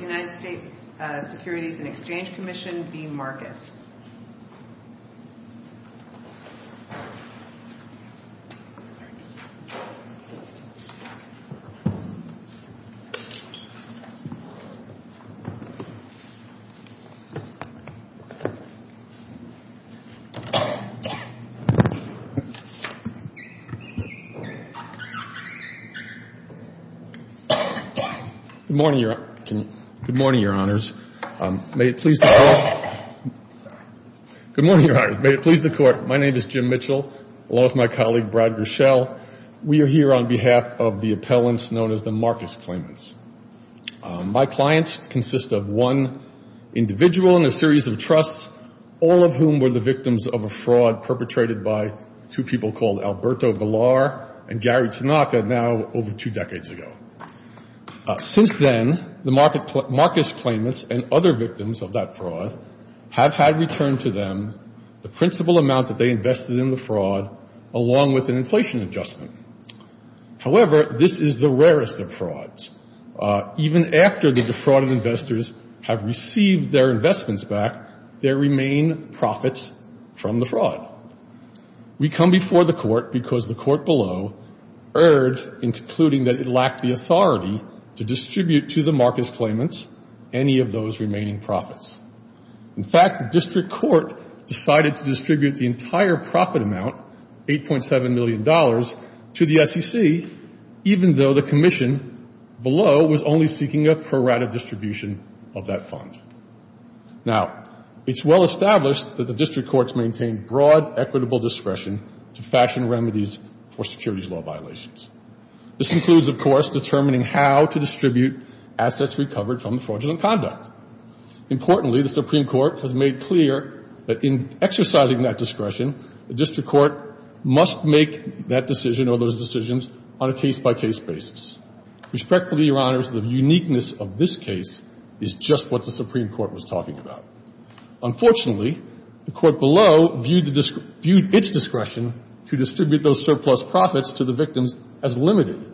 United States Securities and Exchange Commission v. Marcus. Good morning, Your Honors. May it please the Court. My name is Jim Mitchell, along with my colleague, Brad Grishel. We are here on behalf of the appellants known as the Marcus Claimants. My clients consist of one individual in a series of trusts, all of whom were the victims of a fraud perpetrated by two people called Alberto Galar and Gary Tanaka, now over two decades ago. Since then, the Marcus Claimants and other victims of that fraud have had returned to them the principal amount that they invested in the fraud, along with an inflation adjustment. However, this is the rarest of frauds. Even after the defrauded investors have received their investments back, there remain profits from the fraud. We come before the Court because the Court below erred in concluding that it lacked the authority to distribute to the Marcus Claimants any of those remaining profits. In fact, the District Court decided to distribute the entire profit amount, $8.7 million, to the SEC, even though the Commission below was only seeking a prorated distribution of that fund. Now, it's well established that the District Courts maintain broad equitable discretion to fashion remedies for securities law violations. This includes, of course, determining how to distribute assets recovered from fraudulent conduct. Importantly, the Supreme Court has made clear that in exercising that discretion, the District Court must make that decision or those decisions on a case-by-case basis. Respectfully, Your Honors, the uniqueness of this case is just what the Supreme Court was talking about. Unfortunately, the Court below viewed its discretion to distribute those surplus profits to the victims as limited,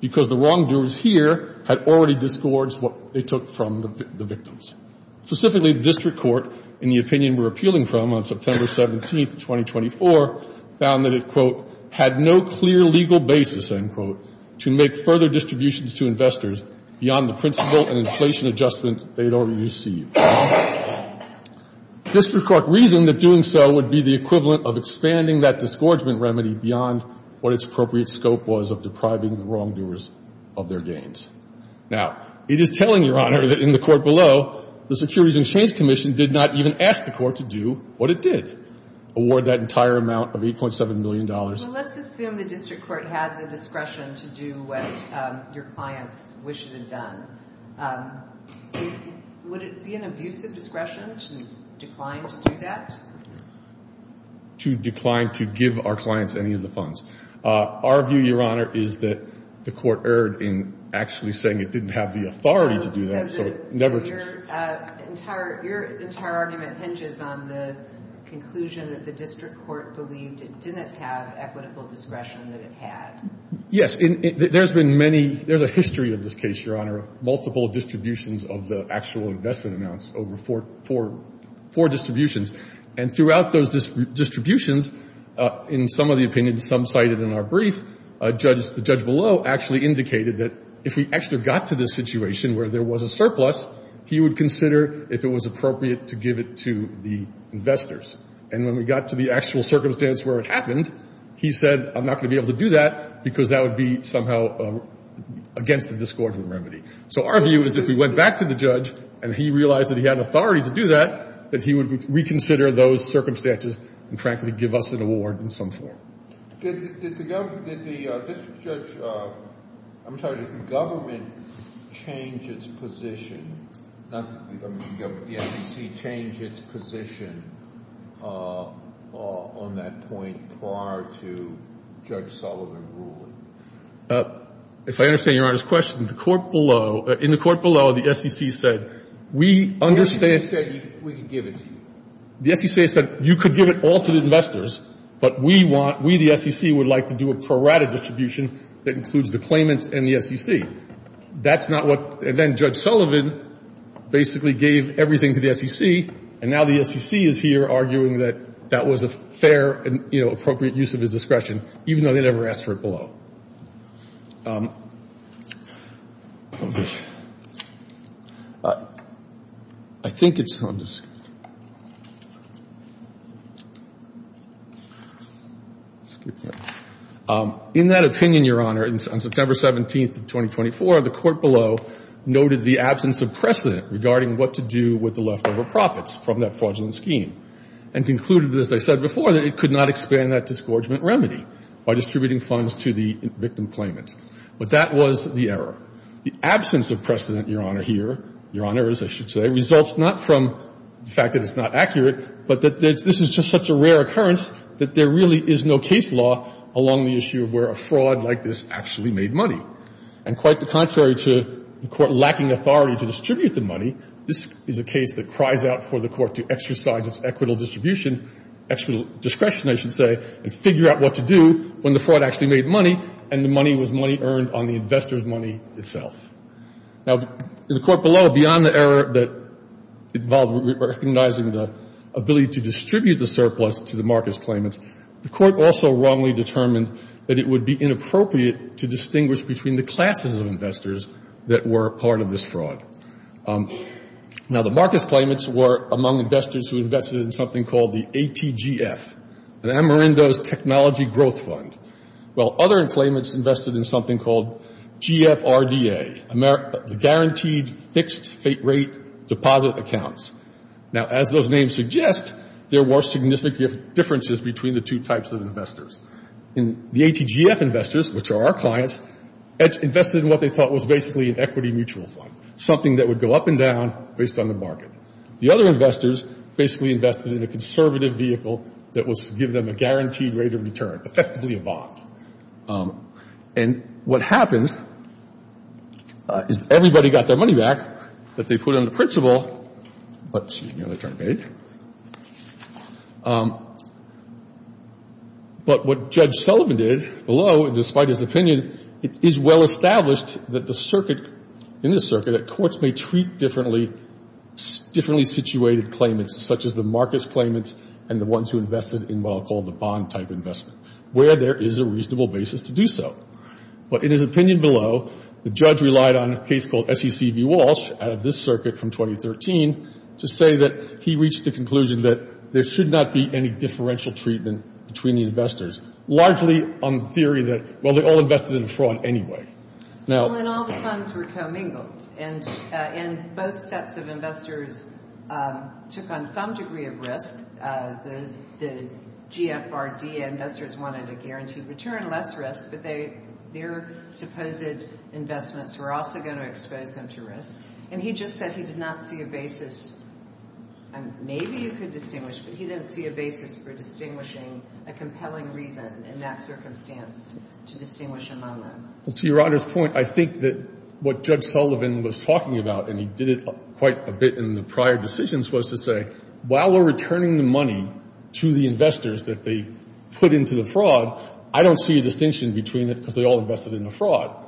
because the wrongdoers here had already disgorged what they took from the victims. Specifically, the District Court, in the opinion we're appealing from on September 17th, 2024, found that it, quote, had no clear legal basis, end quote, to make further distributions to investors beyond the principle and inflation adjustments they had already received. The District Court reasoned that doing so would be the equivalent of expanding that disgorgement remedy beyond what its appropriate scope was of depriving the wrongdoers of their gains. Now, it is telling, Your Honor, that in the Court below, the Securities and Exchange Commission did not even ask the Court to do what it did, award that entire amount of $8.7 million. Well, let's assume the District Court had the discretion to do what your clients wish it had done. Would it be an abusive discretion to decline to do that? To decline to give our clients any of the funds. Our view, Your Honor, is that the Court erred in actually saying it didn't have the authority to do that. So your entire argument hinges on the conclusion that the District Court believed it didn't have equitable discretion that it had. Yes. There's been many, there's a history of this case, Your Honor, of multiple distributions of the actual investment amounts, over four distributions. And throughout those distributions, in some of the opinions some cited in our brief, the judge below actually indicated that if we actually got to this situation where there was a surplus, he would consider if it was appropriate to give it to the investors. And when we got to the actual circumstance where it happened, he said, I'm not going to be able to do that because that would be somehow against the discordant remedy. So our view is if we went back to the judge and he realized that he had authority to do that, that he would reconsider those circumstances and, frankly, give us an award in some form. Did the district judge, I'm sorry, did the government change its position, not the government, the SEC change its position on that point prior to Judge Sullivan ruling? If I understand Your Honor's question, the court below, in the court below, the SEC said, we understand. The SEC said we could give it to you. The SEC said you could give it all to the investors, but we want, we, the SEC, would like to do a prorated distribution that includes the claimants and the SEC. That's not what, and then Judge Sullivan basically gave everything to the SEC, and now the SEC is here arguing that that was a fair and, you know, appropriate use of his discretion, even though they never asked for it below. In that opinion, Your Honor, on September 17th of 2024, the court below noted the absence of precedent regarding what to do with the leftover profits from that fraudulent scheme, and concluded, as I said before, that it could not expand that disgorgement remedy by distributing funds to the SEC. But that was the error. The absence of precedent, Your Honor, here, Your Honors, I should say, results not from the fact that it's not accurate, but that this is just such a rare occurrence that there really is no case law along the issue of where a fraud like this actually made money. And quite the contrary to the court lacking authority to distribute the money, this is a case that cries out for the court to exercise its equitable distribution discretion, I should say, and figure out what to do when the fraud actually made money and the money was money earned on the investor's money itself. Now, in the court below, beyond the error that involved recognizing the ability to distribute the surplus to the Marcus claimants, the court also wrongly determined that it would be inappropriate to distinguish between the classes of investors that were part of this fraud. Now, the Marcus claimants were among investors who invested in something called the ATGF, the Amerindos Technology Growth Fund, while other claimants invested in something called GFRDA, the Guaranteed Fixed Rate Deposit Accounts. Now, as those names suggest, there were significant differences between the two types of investors. The ATGF investors, which are our clients, invested in what they thought was basically an equity mutual fund, something that would go up and down based on the market. The other investors basically invested in a conservative vehicle that would give them a guaranteed rate of return, effectively a bond. And what happened is everybody got their money back that they put on the principal but what Judge Sullivan did below, despite his opinion, it is well established that the circuit, in this circuit, that courts may treat differently situated claimants, such as the Marcus claimants and the ones who invested in what I'll call the bond type investment, where there is a reasonable basis to do so. But in his opinion below, the judge relied on a case called SEC v. Walsh, out of this circuit from 2013, to say that he reached the conclusion that there should not be any differential treatment between the investors, largely on the theory that, well, they all invested in a fraud anyway. Well, and all the funds were commingled. And both sets of investors took on some degree of risk. The GFRD investors wanted a guaranteed return, less risk, but their supposed investments were also going to expose them to risk. And he just said he did not see a basis, and maybe you could distinguish, but he didn't see a basis for distinguishing a compelling reason in that circumstance to distinguish among them. To Your Honor's point, I think that what Judge Sullivan was talking about, and he did it quite a bit in the prior decisions, was to say while we're returning the money to the investors that they put into the fraud, I don't see a distinction between it because they all invested in a fraud.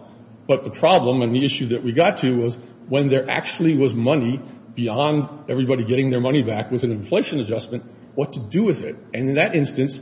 But the problem and the issue that we got to was when there actually was money beyond everybody getting their money back was an inflation adjustment, what to do with it. And in that instance,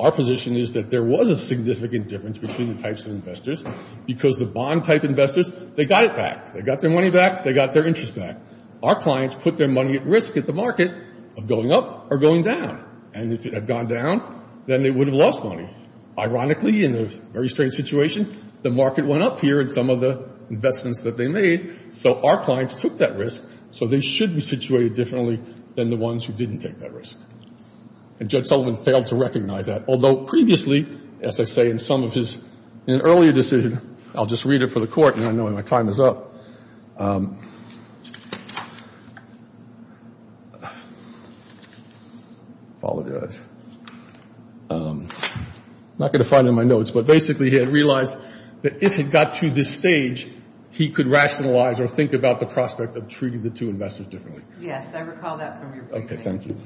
our position is that there was a significant difference between the types of investors because the bond type investors, they got it back. They got their money back. They got their interest back. Our clients put their money at risk at the market of going up or going down. And if it had gone down, then they would have lost money. Ironically, in a very strange situation, the market went up here in some of the investments that they made, so our clients took that risk. So they should be situated differently than the ones who didn't take that risk. And Judge Sullivan failed to recognize that. Although previously, as I say, in some of his earlier decisions, I'll just read it for the Court, and I know my time is up. I'm not going to find it in my notes, but basically he had realized that if it got to this stage, he could rationalize or think about the prospect of treating the two investors differently. Yes, I recall that from your briefing. Okay, thank you.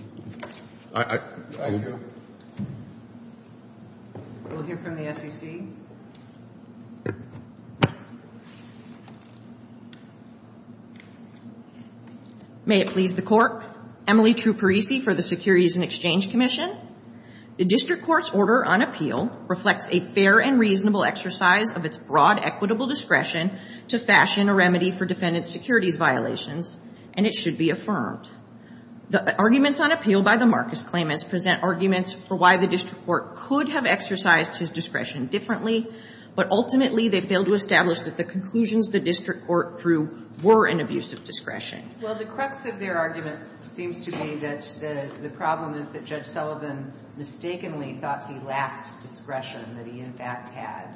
Thank you. We'll hear from the SEC. May it please the Court. Emily Truparisi for the Securities and Exchange Commission. The District Court's order on appeal reflects a fair and reasonable exercise of its broad equitable discretion to fashion a remedy for defendant securities violations, and it should be affirmed. The arguments on appeal by the Marcus claimants present arguments for why the District Court could have exercised his discretion differently, but ultimately they failed to establish that the conclusions the District Court drew were an abuse of discretion. Well, the crux of their argument seems to be that the problem is that Judge Sullivan mistakenly thought he lacked discretion, that he in fact had,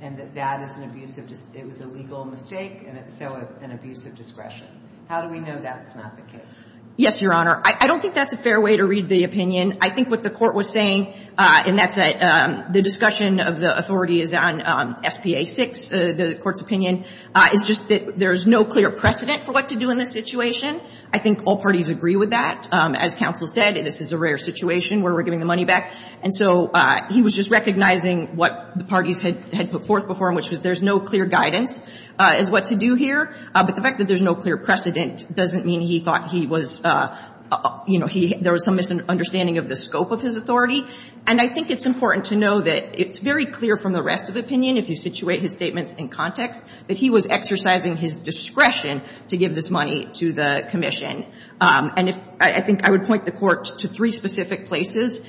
and that that is an abusive – it was a legal mistake, and so an abuse of discretion. How do we know that's not the case? Yes, Your Honor. I don't think that's a fair way to read the opinion. I think what the Court was saying, and that's a – the discussion of the authority is on SPA 6, the Court's opinion, is just that there's no clear precedent for what to do in this situation. I think all parties agree with that. As counsel said, this is a rare situation where we're giving the money back. And so he was just recognizing what the parties had put forth before him, which was there's no clear guidance as what to do here. But the fact that there's no clear precedent doesn't mean he thought he was – you know, there was some misunderstanding of the scope of his authority. And I think it's important to know that it's very clear from the rest of the opinion, if you situate his statements in context, that he was exercising his discretion to give this money to the commission. And if – I think I would point the Court to three specific places,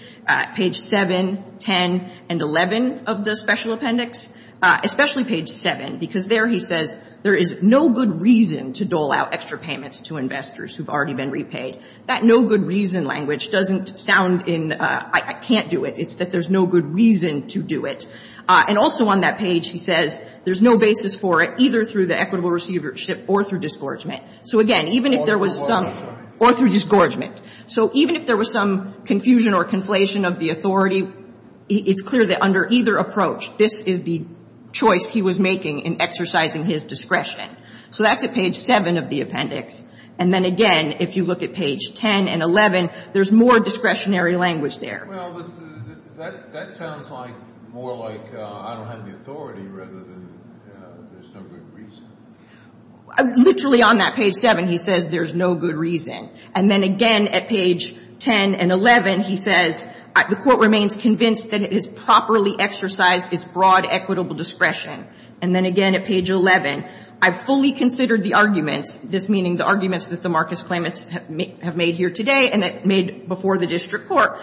page 7, 10, and 11 of the special appendix, especially page 7, because there he says there is no good reason to dole out extra payments to investors who've already been repaid. That no good reason language doesn't sound in – I can't do it. It's that there's no good reason to do it. And also on that page, he says there's no basis for it either through the equitable receivership or through disgorgement. So, again, even if there was some – Or through disgorgement. Or through disgorgement. So even if there was some confusion or conflation of the authority, it's clear that under either approach, this is the choice he was making in exercising his discretion. So that's at page 7 of the appendix. And then, again, if you look at page 10 and 11, there's more discretionary language there. Well, that sounds like more like I don't have the authority rather than there's no good reason. Literally on that page 7, he says there's no good reason. And then, again, at page 10 and 11, he says the court remains convinced that it has properly exercised its broad equitable discretion. And then, again, at page 11, I've fully considered the arguments, this meaning the arguments that the Marcus claimants have made here today and that made before the district court,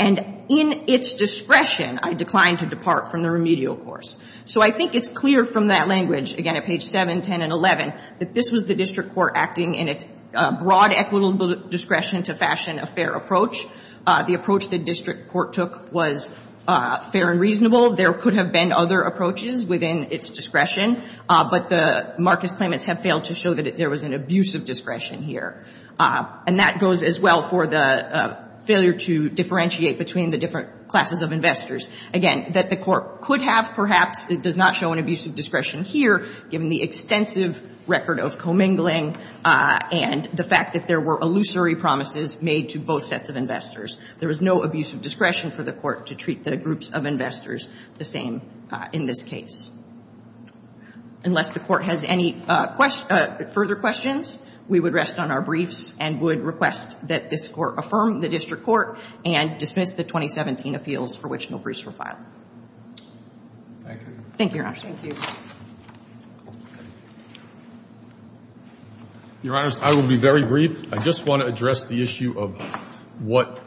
and in its discretion, I decline to depart from the remedial course. So I think it's clear from that language, again, at page 7, 10, and 11, that this was the district court acting in its broad equitable discretion to fashion a fair approach. The approach the district court took was fair and reasonable. There could have been other approaches within its discretion. But the Marcus claimants have failed to show that there was an abuse of discretion here. And that goes as well for the failure to differentiate between the different classes of investors. Again, that the court could have, perhaps, does not show an abuse of discretion here, given the extensive record of commingling and the fact that there were illusory promises made to both sets of investors. There was no abuse of discretion for the court to treat the groups of investors the same in this case. Unless the court has any further questions, we would rest on our briefs and would request that this court affirm the district court and dismiss the 2017 appeals for discretional briefs for file. Thank you. Thank you, Your Honor. Thank you. Your Honor, I will be very brief. I just want to address the issue of what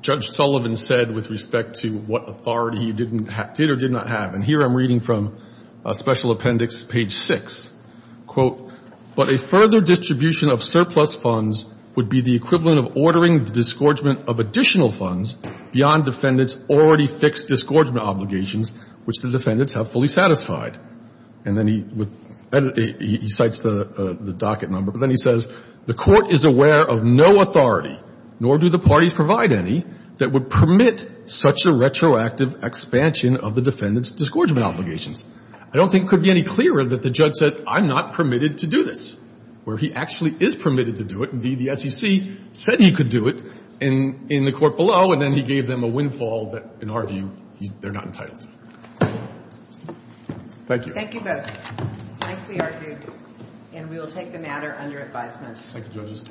Judge Sullivan said with respect to what authority he did or did not have. And here I'm reading from Special Appendix page 6, quote, but a further distribution of surplus funds would be the equivalent of ordering the disgorgement of additional funds beyond defendants' already fixed disgorgement obligations, which the defendants have fully satisfied. And then he cites the docket number, but then he says, the court is aware of no authority, nor do the parties provide any, that would permit such a retroactive expansion of the defendants' disgorgement obligations. I don't think it could be any clearer that the judge said, I'm not permitted to do this, where he actually is permitted to do it. Indeed, the SEC said he could do it in the court below, and then he gave them a windfall that, in our view, they're not entitled to. Thank you. Thank you both. Nicely argued. And we will take the matter under advisement. Thank you, judges.